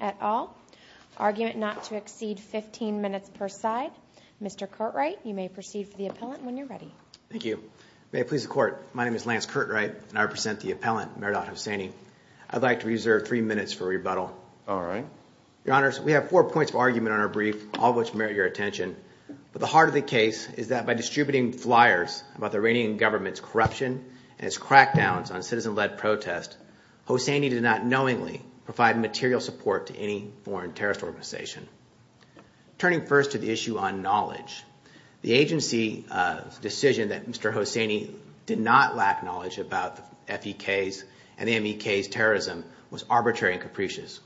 at all. Argument not to exceed 15 minutes per side. Mr. Curtright, you may proceed for the appellant when you're ready. Thank you. May it please the court, my name is Lance Curtright and I represent the appellant, Meridad Hosseini. I'd like to reserve three minutes for rebuttal. All right. Your honors, we have four points of argument on our brief, all of which merit your attention, but the heart of the case is that by distributing flyers about the Iranian government's corruption and its crackdowns on citizen-led protest, Hosseini did not knowingly provide material support to any foreign terrorist organization. Turning first to the issue on knowledge, the agency's decision that Mr. Hosseini did not lack knowledge about the F.E.K.'s and the M.E.K.'s terrorism was arbitrary and capricious.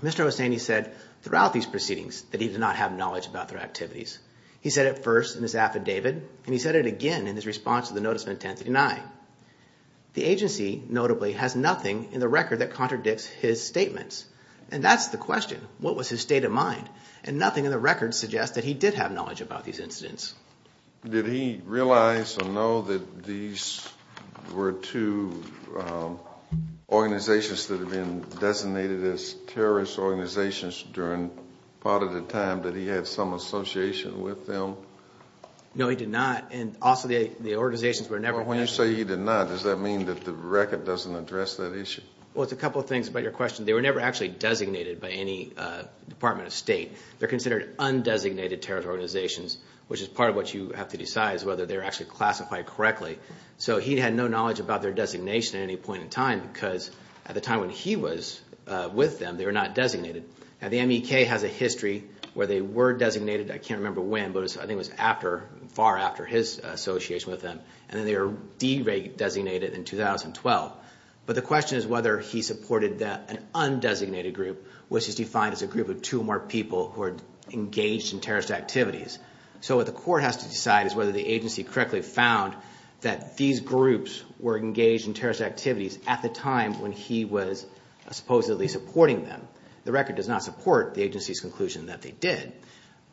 Mr. Hosseini said throughout these proceedings that he did not have knowledge about their activities. He said it first in his affidavit and he said it again in his response to the notice of intent to deny. The agency, notably, has nothing in the record that contradicts his statements. And that's the question. What was his state of mind? And nothing in the record suggests that he did have knowledge about these incidents. Did he realize or know that these were two organizations that had been designated as terrorist organizations during part of the time that he had some association with them? No, he did not. And also the organizations were never – When you say he did not, does that mean that the record doesn't address that issue? Well, it's a couple of things about your question. They were never actually designated by any department of state. They're considered undesignated terrorist organizations, which is part of what you have to decide is whether they're actually classified correctly. So he had no knowledge about their designation at any point in time because at the time when he was with them, they were not designated. Now, the MEK has a history where they were designated. I can't remember when, but I think it was after – far after his association with them. And then they were de-designated in 2012. But the question is whether he supported an undesignated group, which is defined as a group of two or more people who are engaged in terrorist activities. So what the court has to decide is whether the agency correctly found that these groups were engaged in terrorist activities at the time when he was supposedly supporting them. The record does not support the agency's conclusion that they did.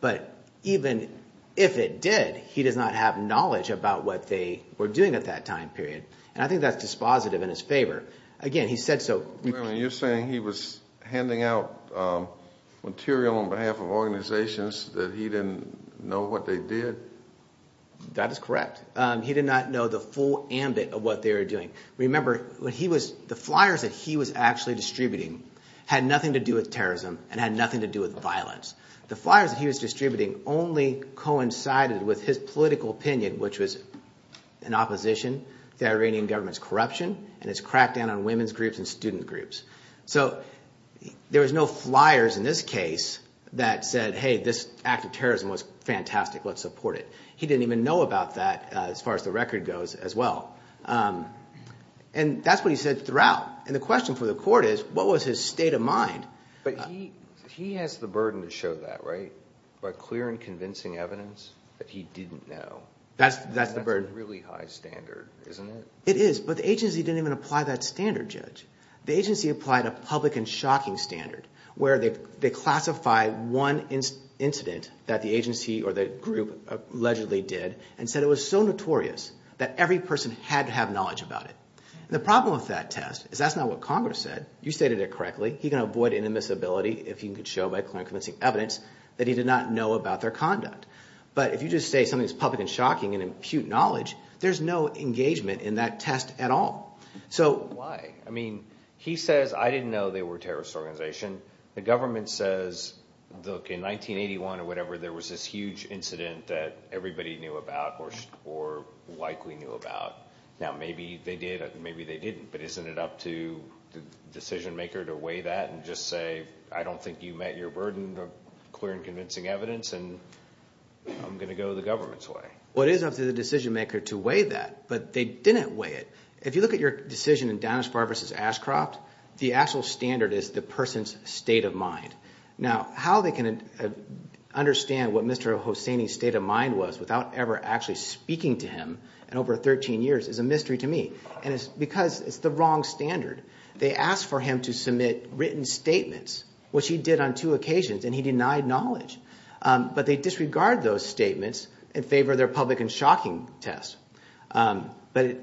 But even if it did, he does not have knowledge about what they were doing at that time period. And I think that's dispositive in his favor. Again, he said so – You're saying he was handing out material on behalf of organizations that he didn't know what they did? That is correct. He did not know the full ambit of what they were doing. Remember, what he was – the flyers that he was actually distributing had nothing to do with terrorism and had nothing to do with violence. The flyers that he was distributing only coincided with his political opinion, which was in opposition to Iranian government's corruption and its crackdown on women's groups and student groups. So there was no flyers in this case that said, hey, this act of terrorism was fantastic. Let's support it. He didn't even know about that as far as the record goes as well. And that's what he said throughout. And the question for the court is what was his state of mind? But he has the burden to show that by clear and convincing evidence that he didn't know. That's the burden. That's a really high standard, isn't it? It is, but the agency didn't even apply that standard, Judge. The agency applied a public and shocking standard where they classified one incident that the agency or the group allegedly did and said it was so notorious that every person had to have knowledge about it. The problem with that test is that's not what Congress said. You stated it correctly. He can avoid inadmissibility if he could show by clear and convincing evidence that he did not know about their conduct. But if you just say something is public and shocking and impute knowledge, there's no engagement in that test at all. So why? I mean he says I didn't know they were a terrorist organization. The government says, look, in 1981 or whatever, there was this huge incident that everybody knew about or likely knew about. Now, maybe they did and maybe they didn't, but isn't it up to the decision-maker to weigh that and just say I don't think you met your burden of clear and convincing evidence and I'm going to go the government's way? Well, it is up to the decision-maker to weigh that, but they didn't weigh it. If you look at your decision in Danis Farber v. Ashcroft, the actual standard is the person's state of mind. Now, how they can understand what Mr. Hosseini's state of mind was without ever actually speaking to him in over 13 years is a mystery to me. And it's because it's the wrong standard. They asked for him to submit written statements, which he did on two occasions, and he denied knowledge. But they disregard those statements in favor of their public and shocking test. But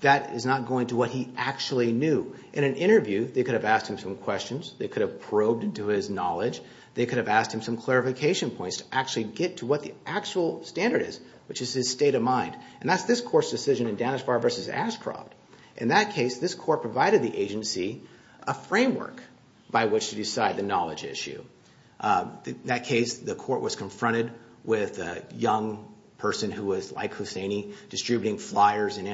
that is not going to what he actually knew. In an interview, they could have asked him some questions. They could have probed into his knowledge. They could have asked him some clarification points to actually get to what the actual standard is, which is his state of mind. And that's this court's decision in Danis Farber v. Ashcroft. In that case, this court provided the agency a framework by which to decide the knowledge issue. In that case, the court was confronted with a young person who was like Hosseini, distributing flyers in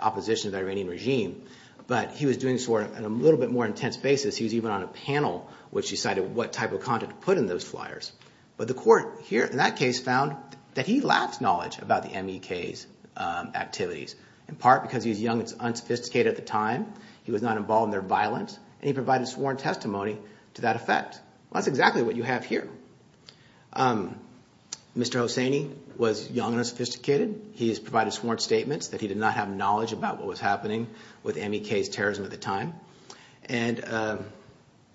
opposition to the Iranian regime. But he was doing so on a little bit more intense basis. He was even on a panel, which decided what type of content to put in those flyers. But the court here in that case found that he lacked knowledge about the MEK's activities, in part because he was young and unsophisticated at the time. He was not involved in their violence, and he provided sworn testimony to that effect. That's exactly what you have here. Mr. Hosseini was young and unsophisticated. He has provided sworn statements that he did not have knowledge about what was happening with MEK's terrorism at the time. And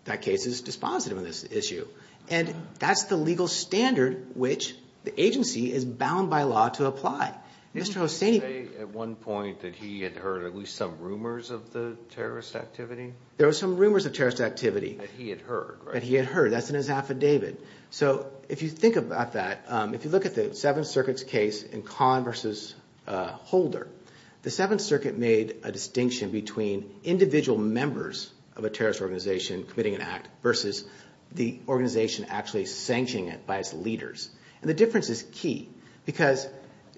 that case is dispositive of this issue. And that's the legal standard which the agency is bound by law to apply. Mr. Hosseini – Did he say at one point that he had heard at least some rumors of the terrorist activity? There were some rumors of terrorist activity. That he had heard, right? That he had heard. That's in his affidavit. So if you think about that, if you look at the Seventh Circuit's case in Kahn v. Holder, the Seventh Circuit made a distinction between individual members of a terrorist organization committing an act versus the organization actually sanctioning it by its leaders. And the difference is key, because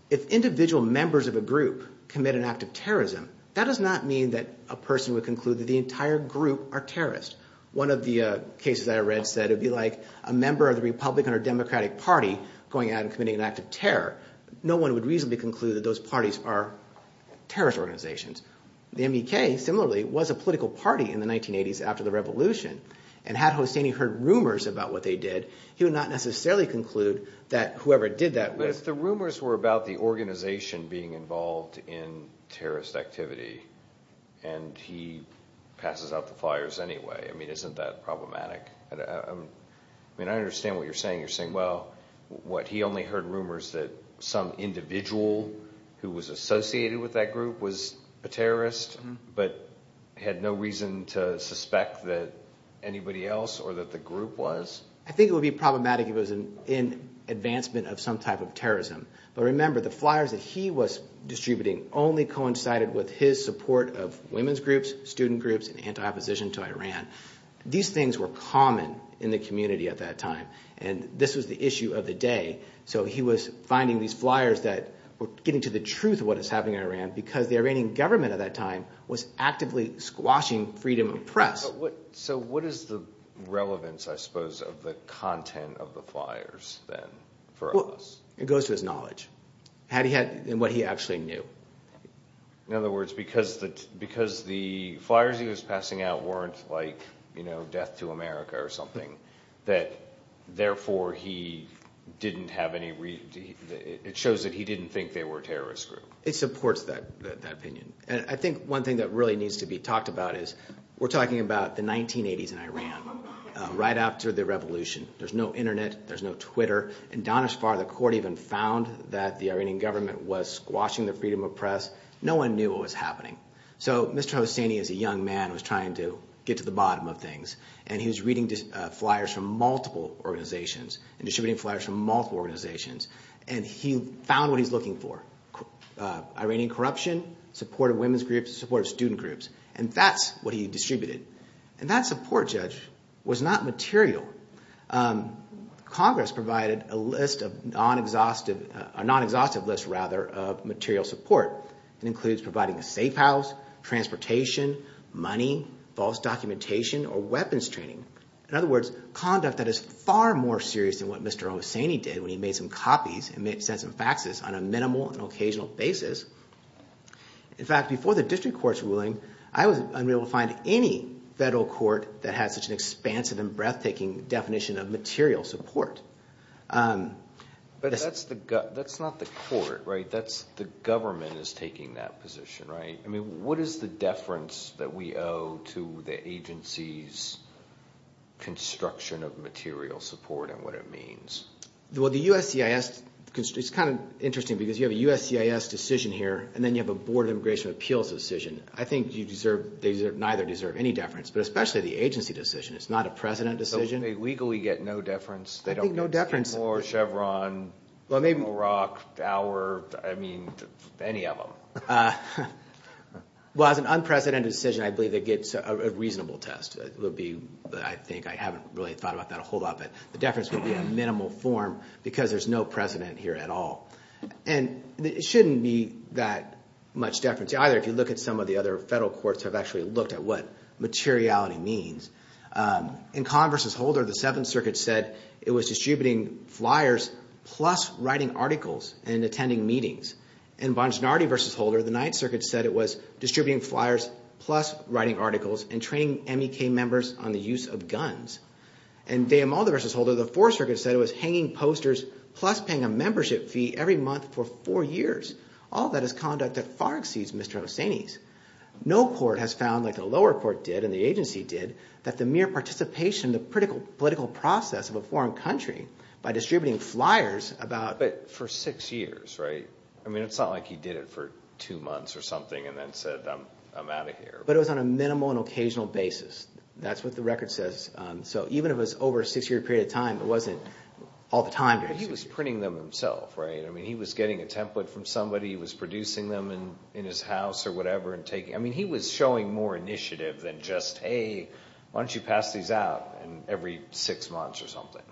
if individual members of a group commit an act of terrorism, that does not mean that a person would conclude that the entire group are terrorists. One of the cases I read said it would be like a member of the Republican or Democratic Party going out and committing an act of terror. No one would reasonably conclude that those parties are terrorist organizations. The MEK, similarly, was a political party in the 1980s after the revolution. And had Hosseini heard rumors about what they did, he would not necessarily conclude that whoever did that – But if the rumors were about the organization being involved in terrorist activity and he passes out the flyers anyway, I mean, isn't that problematic? I mean, I understand what you're saying. You're saying, well, what, he only heard rumors that some individual who was associated with that group was a terrorist, but had no reason to suspect that anybody else or that the group was? I think it would be problematic if it was in advancement of some type of terrorism. But remember, the flyers that he was distributing only coincided with his support of women's groups, student groups, and anti-opposition to Iran. These things were common in the community at that time, and this was the issue of the day. So he was finding these flyers that were getting to the truth of what was happening in Iran because the Iranian government at that time was actively squashing freedom of press. So what is the relevance, I suppose, of the content of the flyers then for us? It goes to his knowledge and what he actually knew. In other words, because the flyers he was passing out weren't like death to America or something, that therefore he didn't have any reason, it shows that he didn't think they were a terrorist group. It supports that opinion. I think one thing that really needs to be talked about is we're talking about the 1980s in Iran, right after the revolution. There's no Internet. There's no Twitter. And down as far as the court even found that the Iranian government was squashing the freedom of press, no one knew what was happening. So Mr. Hosseini as a young man was trying to get to the bottom of things, and he was reading flyers from multiple organizations and distributing flyers from multiple organizations, and he found what he was looking for, Iranian corruption, support of women's groups, support of student groups. And that's what he distributed. And that support, Judge, was not material. Congress provided a list of non-exhaustive lists, rather, of material support. It includes providing a safe house, transportation, money, false documentation, or weapons training. In other words, conduct that is far more serious than what Mr. Hosseini did when he made some copies and sent some faxes on a minimal and occasional basis. In fact, before the district court's ruling, I was unable to find any federal court that had such an expansive and breathtaking definition of material support. But that's not the court, right? That's the government is taking that position, right? I mean, what is the deference that we owe to the agency's construction of material support and what it means? Well, the USCIS, it's kind of interesting because you have a USCIS decision here, and then you have a Board of Immigration Appeals decision. I think you deserve, they deserve, neither deserve any deference, but especially the agency decision. It's not a precedent decision. So they legally get no deference? I think no deference. They don't get Skidmore, Chevron, Moorock, Dower, I mean, any of them. Well, as an unprecedented decision, I believe they get a reasonable test. It would be, I think, I haven't really thought about that a whole lot, but the deference would be a minimal form because there's no precedent here at all. And it shouldn't be that much deference either, if you look at some of the other federal courts have actually looked at what materiality means. In Kahn v. Holder, the Seventh Circuit said it was distributing flyers plus writing articles and attending meetings. In Bonginardi v. Holder, the Ninth Circuit said it was distributing flyers plus writing articles and training MEK members on the use of guns. And De Amaldo v. Holder, the Fourth Circuit said it was hanging posters plus paying a membership fee every month for four years. All of that is conduct that far exceeds Mr. Hosseini's. No court has found, like the lower court did and the agency did, that the mere participation in the political process of a foreign country by distributing flyers about— But for six years, right? I mean, it's not like he did it for two months or something and then said, I'm out of here. But it was on a minimal and occasional basis. That's what the record says. So even if it was over a six-year period of time, it wasn't all the time. He was printing them himself, right? I mean, he was getting a template from somebody. He was producing them in his house or whatever and taking— I mean, he was showing more initiative than just, hey, why don't you pass these out every six months or something.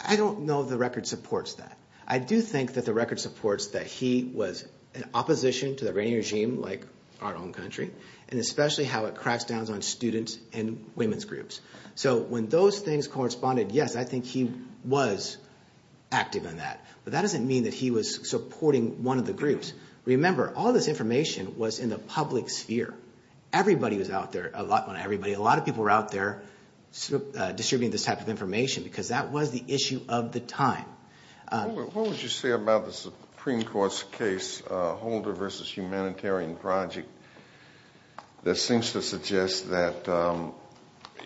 I don't know if the record supports that. I do think that the record supports that he was in opposition to the Iranian regime like our own country and especially how it cracks down on students and women's groups. So when those things corresponded, yes, I think he was active in that. But that doesn't mean that he was supporting one of the groups. Remember, all this information was in the public sphere. Everybody was out there, a lot of everybody. A lot of people were out there distributing this type of information because that was the issue of the time. What would you say about the Supreme Court's case, Holder v. Humanitarian Project, that seems to suggest that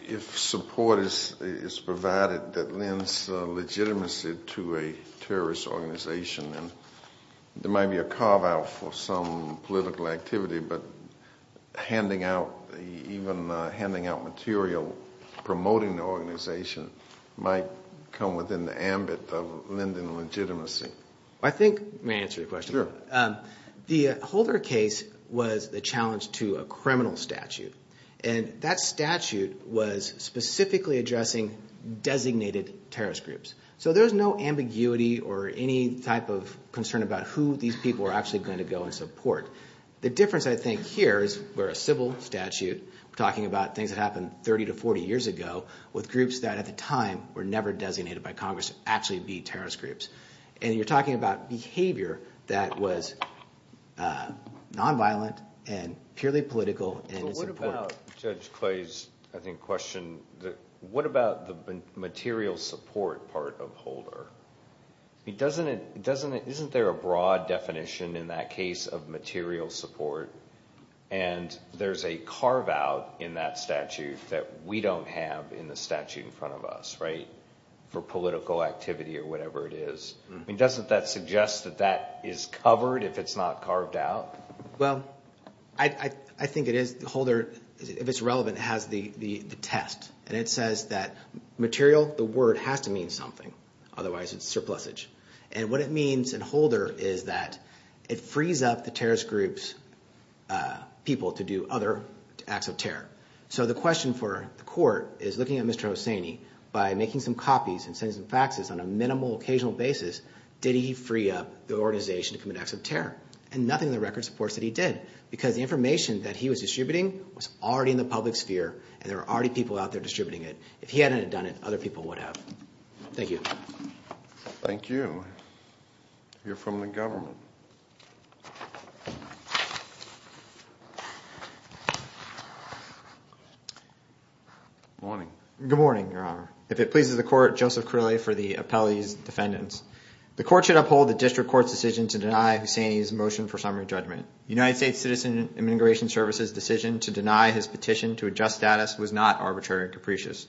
if support is provided that lends legitimacy to a terrorist organization, then there might be a carve-out for some political activity, but even handing out material promoting the organization might come within the ambit of lending legitimacy? I think—may I answer your question? Sure. The Holder case was a challenge to a criminal statute, and that statute was specifically addressing designated terrorist groups. So there was no ambiguity or any type of concern about who these people were actually going to go and support. The difference, I think, here is we're a civil statute. We're talking about things that happened 30 to 40 years ago with groups that at the time were never designated by Congress to actually be terrorist groups. And you're talking about behavior that was nonviolent and purely political, and it's important. But what about Judge Clay's, I think, question? What about the material support part of Holder? Isn't there a broad definition in that case of material support, and there's a carve-out in that statute that we don't have in the statute in front of us, right, for political activity or whatever it is? I mean, doesn't that suggest that that is covered if it's not carved out? Well, I think it is. Holder, if it's relevant, has the test, and it says that material, the word, has to mean something. Otherwise, it's surplusage. And what it means in Holder is that it frees up the terrorist group's people to do other acts of terror. So the question for the court is looking at Mr. Hosseini. By making some copies and sending some faxes on a minimal, occasional basis, did he free up the organization to commit acts of terror? And nothing in the record supports that he did, because the information that he was distributing was already in the public sphere, and there were already people out there distributing it. If he hadn't have done it, other people would have. Thank you. Thank you. You're from the government. Good morning. Good morning, Your Honor. If it pleases the Court, Joseph Crillay for the appellee's defendants. The Court should uphold the district court's decision to deny Hosseini's motion for summary judgment. United States Citizen Immigration Service's decision to deny his petition to adjust status was not arbitrary and capricious.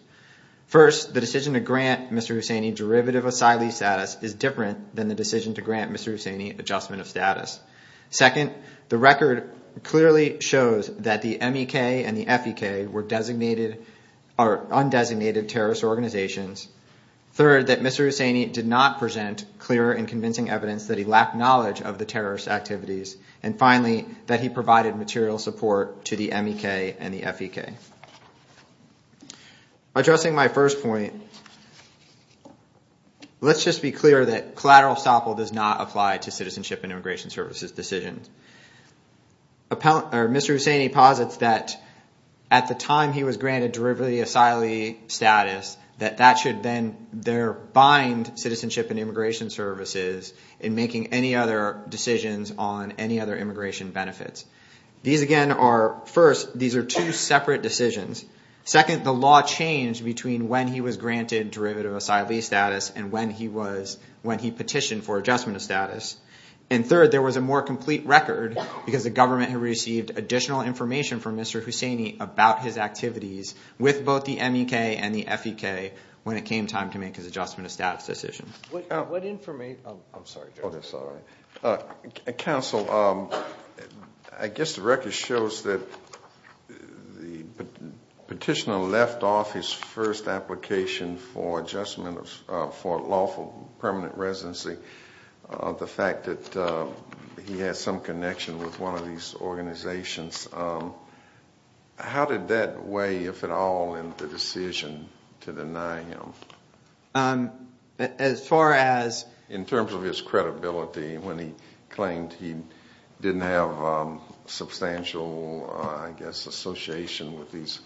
First, the decision to grant Mr. Hosseini derivative asylee status is different than the decision to grant Mr. Hosseini adjustment of status. Second, the record clearly shows that the MEK and the FEK were undesignated terrorist organizations. Third, that Mr. Hosseini did not present clear and convincing evidence that he lacked knowledge of the terrorist activities. And finally, that he provided material support to the MEK and the FEK. Addressing my first point, let's just be clear that collateral estoppel does not apply to Citizenship and Immigration Services decisions. Mr. Hosseini posits that at the time he was granted derivative asylee status, that that should then bind Citizenship and Immigration Services in making any other decisions on any other immigration benefits. First, these are two separate decisions. Second, the law changed between when he was granted derivative asylee status and when he petitioned for adjustment of status. And third, there was a more complete record because the government had received additional information from Mr. Hosseini about his activities with both the MEK and the FEK when it came time to make his adjustment of status decision. What information, I'm sorry. Counsel, I guess the record shows that the petitioner left off his first application for adjustment for lawful permanent residency. The fact that he has some connection with one of these organizations. How did that weigh, if at all, in the decision to deny him? As far as? In terms of his credibility when he claimed he didn't have substantial, I guess, association with these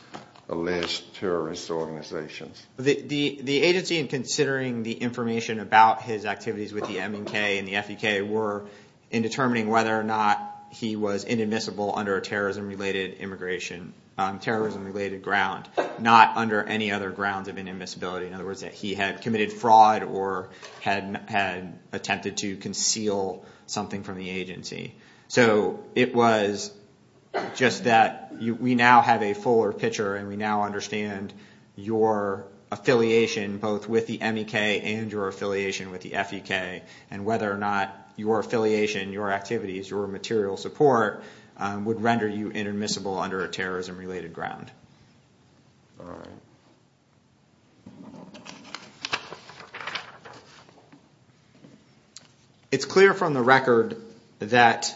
alleged terrorist organizations. The agency, in considering the information about his activities with the MEK and the FEK, were in determining whether or not he was inadmissible under a terrorism-related immigration, terrorism-related ground, not under any other grounds of inadmissibility. In other words, that he had committed fraud or had attempted to conceal something from the agency. It was just that we now have a fuller picture and we now understand your affiliation both with the MEK and your affiliation with the FEK and whether or not your affiliation, your activities, your material support would render you inadmissible under a terrorism-related ground. All right. It's clear from the record that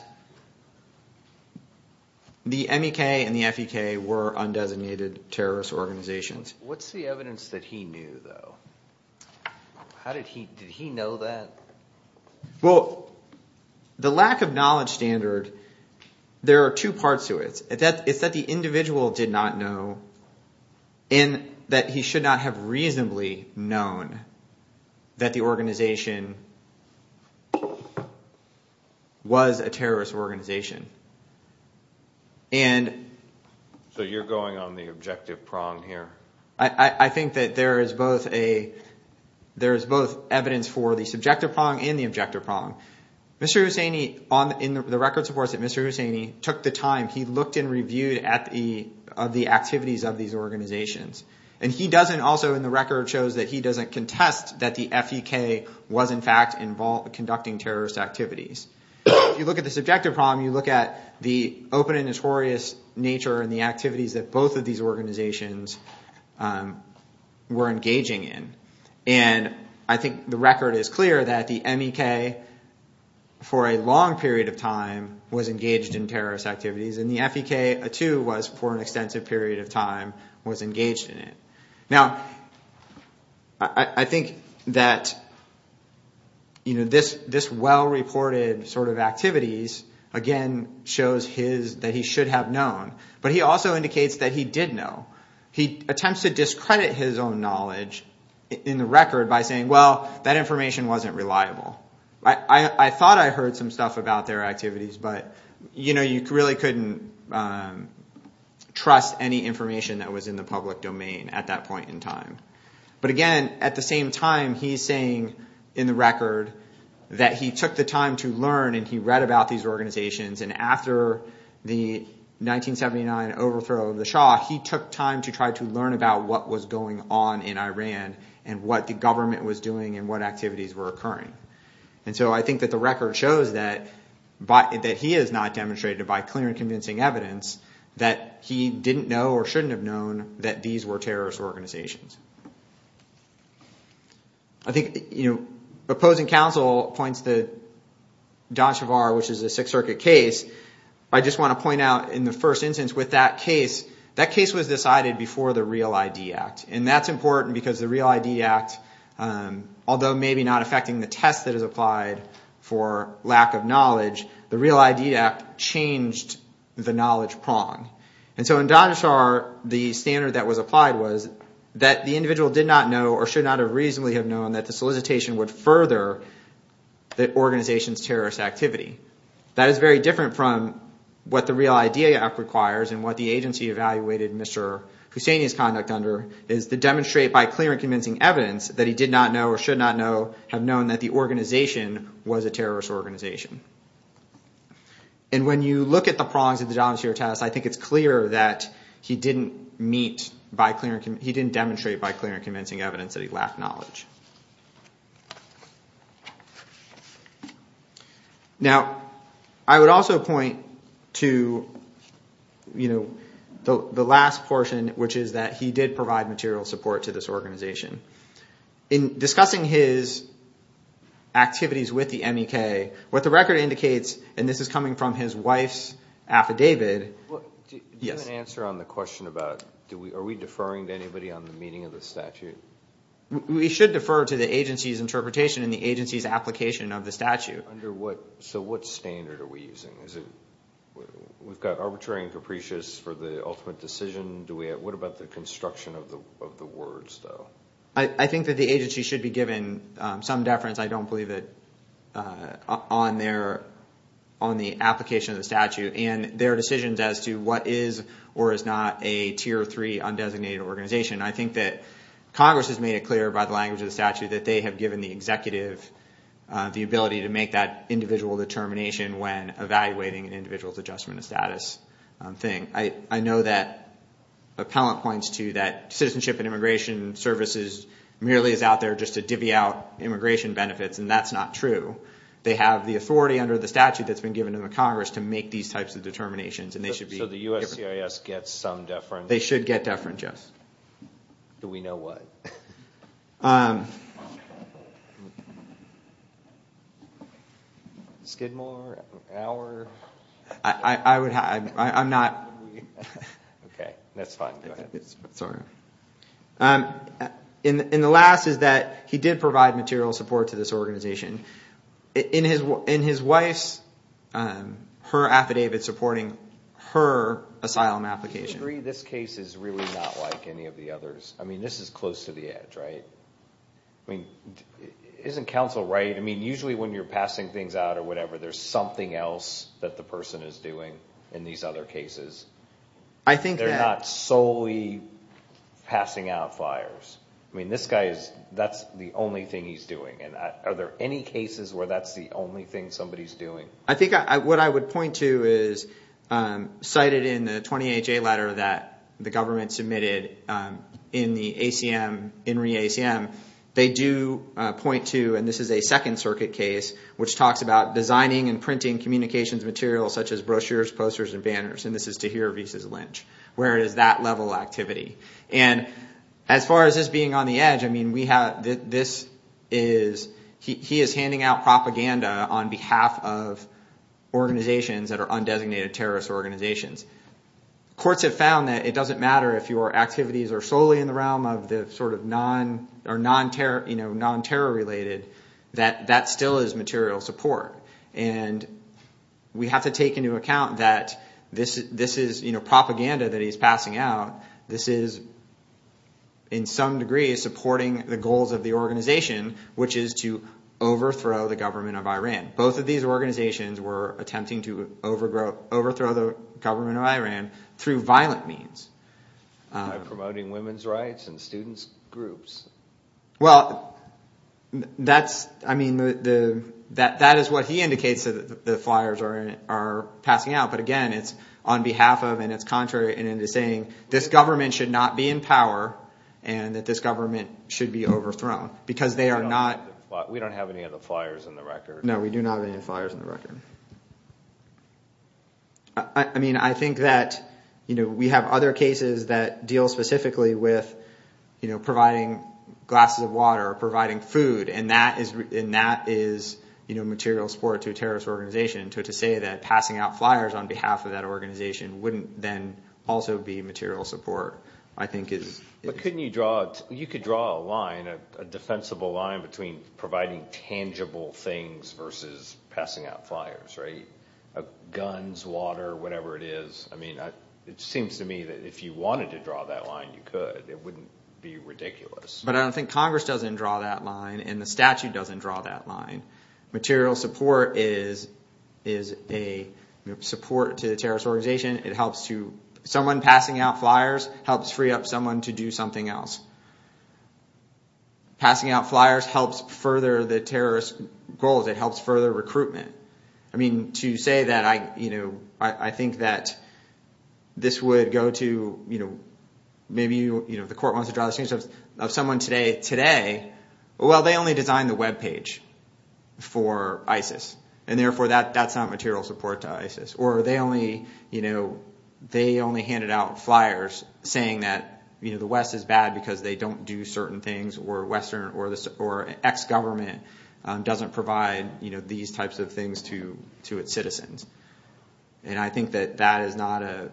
the MEK and the FEK were undesignated terrorist organizations. What's the evidence that he knew, though? How did he – did he know that? Well, the lack of knowledge standard, there are two parts to it. It's that the individual did not know and that he should not have reasonably known that the organization was a terrorist organization. So you're going on the objective prong here? I think that there is both evidence for the subjective prong and the objective prong. Mr. Hussaini – in the record supports that Mr. Hussaini took the time, he looked and reviewed at the activities of these organizations. And he doesn't – also in the record shows that he doesn't contest that the FEK was in fact conducting terrorist activities. If you look at the subjective prong, you look at the open and notorious nature and the activities that both of these organizations were engaging in. And I think the record is clear that the MEK for a long period of time was engaged in terrorist activities and the FEK too was for an extensive period of time was engaged in it. Now, I think that this well-reported sort of activities again shows his – that he should have known. But he also indicates that he did know. He attempts to discredit his own knowledge in the record by saying, well, that information wasn't reliable. I thought I heard some stuff about their activities, but you really couldn't trust any information that was in the public domain at that point in time. But again, at the same time, he's saying in the record that he took the time to learn and he read about these organizations. And after the 1979 overthrow of the Shah, he took time to try to learn about what was going on in Iran and what the government was doing and what activities were occurring. And so I think that the record shows that he has not demonstrated by clear and convincing evidence that he didn't know or shouldn't have known that these were terrorist organizations. I think opposing counsel points to Dhanushar, which is a Sixth Circuit case. I just want to point out in the first instance with that case, that case was decided before the Real ID Act. And that's important because the Real ID Act, although maybe not affecting the test that is applied for lack of knowledge, the Real ID Act changed the knowledge prong. And so in Dhanushar, the standard that was applied was that the individual did not know or should not have reasonably have known that the solicitation would further the organization's terrorist activity. That is very different from what the Real ID Act requires and what the agency evaluated Mr. Husseini's conduct under is to demonstrate by clear and convincing evidence that he did not know or should not have known that the organization was a terrorist organization. And when you look at the prongs of the Dhanushar test, I think it's clear that he didn't meet, he didn't demonstrate by clear and convincing evidence that he lacked knowledge. Now I would also point to the last portion, which is that he did provide material support to this organization. In discussing his activities with the MEK, what the record indicates, and this is coming from his wife's affidavit. Do you have an answer on the question about, are we deferring to anybody on the meaning of the statute? We should defer to the agency's interpretation and the agency's application of the statute. So what standard are we using? We've got arbitrary and capricious for the ultimate decision. What about the construction of the words though? I think that the agency should be given some deference, I don't believe it, on the application of the statute and their decisions as to what is or is not a Tier 3 undesignated organization. I think that Congress has made it clear by the language of the statute that they have given the executive the ability to make that individual determination when evaluating an individual's adjustment of status thing. I know that appellant points to that citizenship and immigration services merely is out there just to divvy out immigration benefits, and that's not true. They have the authority under the statute that's been given in the Congress to make these types of determinations. So the USCIS gets some deference? They should get deference, yes. Do we know why? Skidmore, our... I'm not... Okay, that's fine, go ahead. Sorry. And the last is that he did provide material support to this organization. In his wife's, her affidavit supporting her asylum application. Do you agree this case is really not like any of the others? I mean, this is close to the edge, right? Isn't counsel right? I mean, usually when you're passing things out or whatever, there's something else that the person is doing in these other cases. I think that... They're not solely passing out flyers. I mean, this guy is, that's the only thing he's doing. And are there any cases where that's the only thing somebody's doing? I think what I would point to is, cited in the 28-J letter that the government submitted in the ACM, they do point to, and this is a Second Circuit case, which talks about designing and printing communications materials such as brochures, posters, and banners. And this is Tahir Aviv's lynch, where it is that level of activity. And as far as this being on the edge, I mean, we have... This is... He is handing out propaganda on behalf of organizations that are undesignated terrorist organizations. Courts have found that it doesn't matter if your activities are solely in the realm of the sort of non-terror related, that that still is material support. And we have to take into account that this is propaganda that he's passing out. This is, in some degree, supporting the goals of the organization, which is to overthrow the government of Iran. And both of these organizations were attempting to overthrow the government of Iran through violent means. By promoting women's rights and students' groups. Well, that's... I mean, that is what he indicates that the flyers are passing out. But again, it's on behalf of, and it's contrary in saying, this government should not be in power and that this government should be overthrown because they are not... We don't have any of the flyers in the record. No, we do not have any flyers in the record. I mean, I think that we have other cases that deal specifically with providing glasses of water or providing food. And that is material support to a terrorist organization. To say that passing out flyers on behalf of that organization wouldn't then also be material support, I think is... Couldn't you draw... You could draw a line, a defensible line between providing tangible things versus passing out flyers, right? Guns, water, whatever it is. I mean, it seems to me that if you wanted to draw that line, you could. It wouldn't be ridiculous. But I don't think Congress doesn't draw that line and the statute doesn't draw that line. Material support is a support to the terrorist organization. Someone passing out flyers helps free up someone to do something else. Passing out flyers helps further the terrorist goals. It helps further recruitment. I mean, to say that I think that this would go to... Maybe the court wants to draw the statute of someone today. Today, well, they only designed the webpage for ISIS, and therefore that's not material support to ISIS. Or they only handed out flyers saying that the West is bad because they don't do certain things. Or Western or ex-government doesn't provide these types of things to its citizens. And I think that that is not a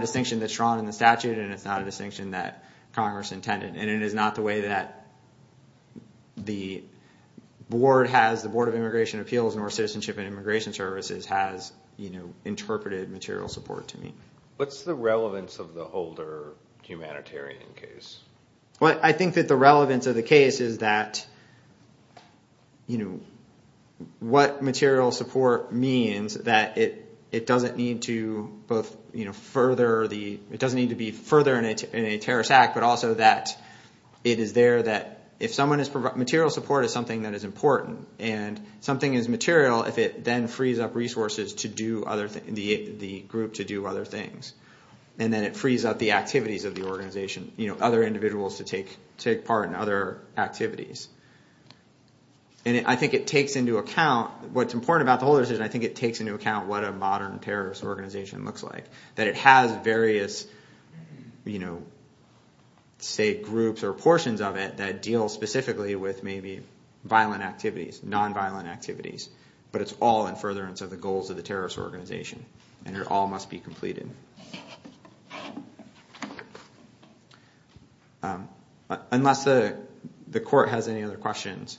distinction that's drawn in the statute, and it's not a distinction that Congress intended. And it is not the way that the board has—the Board of Immigration Appeals, North Citizenship and Immigration Services—has interpreted material support to me. What's the relevance of the older humanitarian case? I think that the relevance of the case is that what material support means, that it doesn't need to both further the— It is there that if someone is—material support is something that is important. And something is material if it then frees up resources to do other—the group to do other things. And then it frees up the activities of the organization, other individuals to take part in other activities. And I think it takes into account—what's important about the whole decision, I think it takes into account what a modern terrorist organization looks like. That it has various, say, groups or portions of it that deal specifically with maybe violent activities, nonviolent activities. But it's all in furtherance of the goals of the terrorist organization, and it all must be completed. Unless the court has any other questions.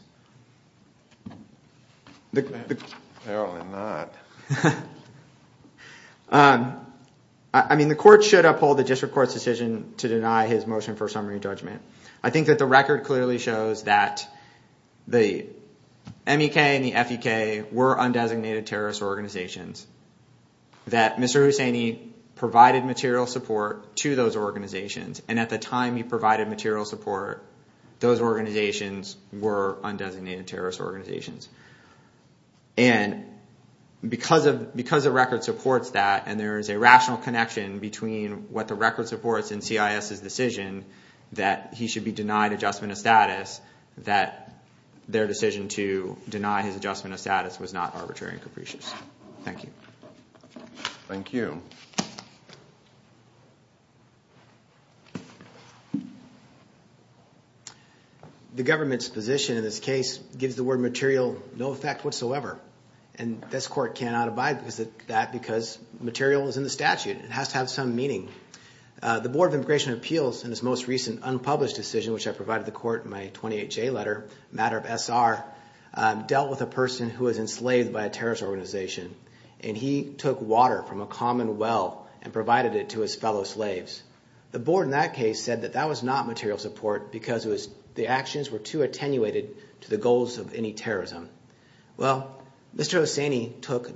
Apparently not. I mean, the court should uphold the district court's decision to deny his motion for summary judgment. I think that the record clearly shows that the MEK and the FUK were undesignated terrorist organizations. That Mr. Husseini provided material support to those organizations. And at the time he provided material support, those organizations were undesignated terrorist organizations. And because the record supports that, and there is a rational connection between what the record supports and CIS's decision that he should be denied adjustment of status, that their decision to deny his adjustment of status was not arbitrary and capricious. Thank you. Thank you. The government's position in this case gives the word material no effect whatsoever. And this court cannot abide by that because material is in the statute. It has to have some meaning. The Board of Immigration Appeals, in its most recent unpublished decision, which I provided the court in my 28-J letter, a matter of SR, dealt with a person who was enslaved by a terrorist organization. And he took water from a common well and provided it to his fellow slaves. The board in that case said that that was not material support because the actions were too attenuated to the goals of any terrorism. Well, Mr. Husseini took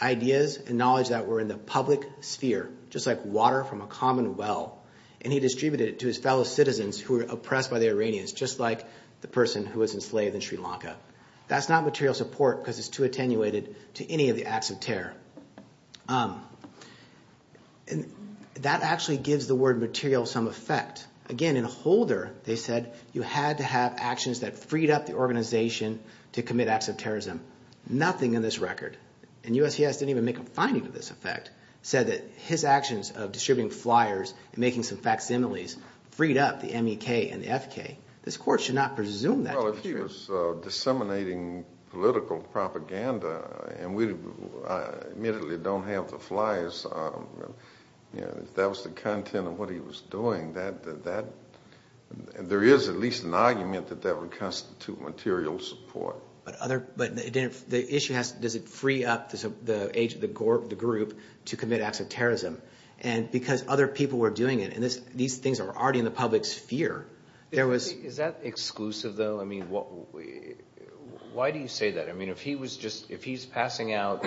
ideas and knowledge that were in the public sphere, just like water from a common well, and he distributed it to his fellow citizens who were oppressed by the Iranians, just like the person who was enslaved in Sri Lanka. That's not material support because it's too attenuated to any of the acts of terror. And that actually gives the word material some effect. Again, in Holder, they said you had to have actions that freed up the organization to commit acts of terrorism. Nothing in this record, and USCS didn't even make a finding to this effect, said that his actions of distributing flyers and making some facsimiles freed up the MEK and the FK. This court should not presume that. Well, if he was disseminating political propaganda and we immediately don't have the flyers, if that was the content of what he was doing, there is at least an argument that that would constitute material support. But the issue is, does it free up the age of the group to commit acts of terrorism? And because other people were doing it, and these things are already in the public sphere. Is that exclusive, though? I mean, why do you say that? I mean, if he's passing out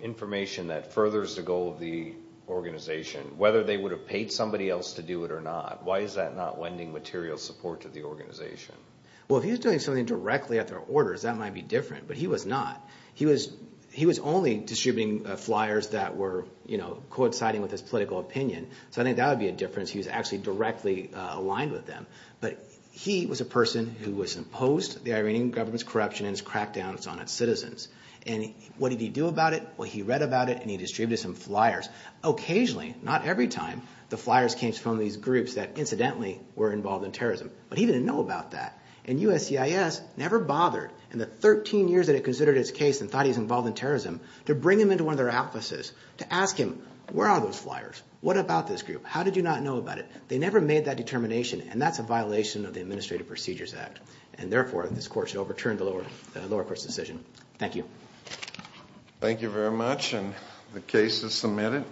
information that furthers the goal of the organization, whether they would have paid somebody else to do it or not, why is that not lending material support to the organization? Well, if he was doing something directly at their orders, that might be different. But he was not. He was only distributing flyers that were coinciding with his political opinion. So I think that would be a difference. He was actually directly aligned with them. But he was a person who was opposed to the Iranian government's corruption and its crackdowns on its citizens. And what did he do about it? Well, he read about it and he distributed some flyers. Occasionally, not every time, the flyers came from these groups that incidentally were involved in terrorism. But he didn't know about that. And USCIS never bothered in the 13 years that it considered his case and thought he was involved in terrorism to bring him into one of their offices to ask him, where are those flyers? What about this group? How did you not know about it? They never made that determination, and that's a violation of the Administrative Procedures Act. And therefore, this court should overturn the lower court's decision. Thank you. Thank you very much. And the case is submitted.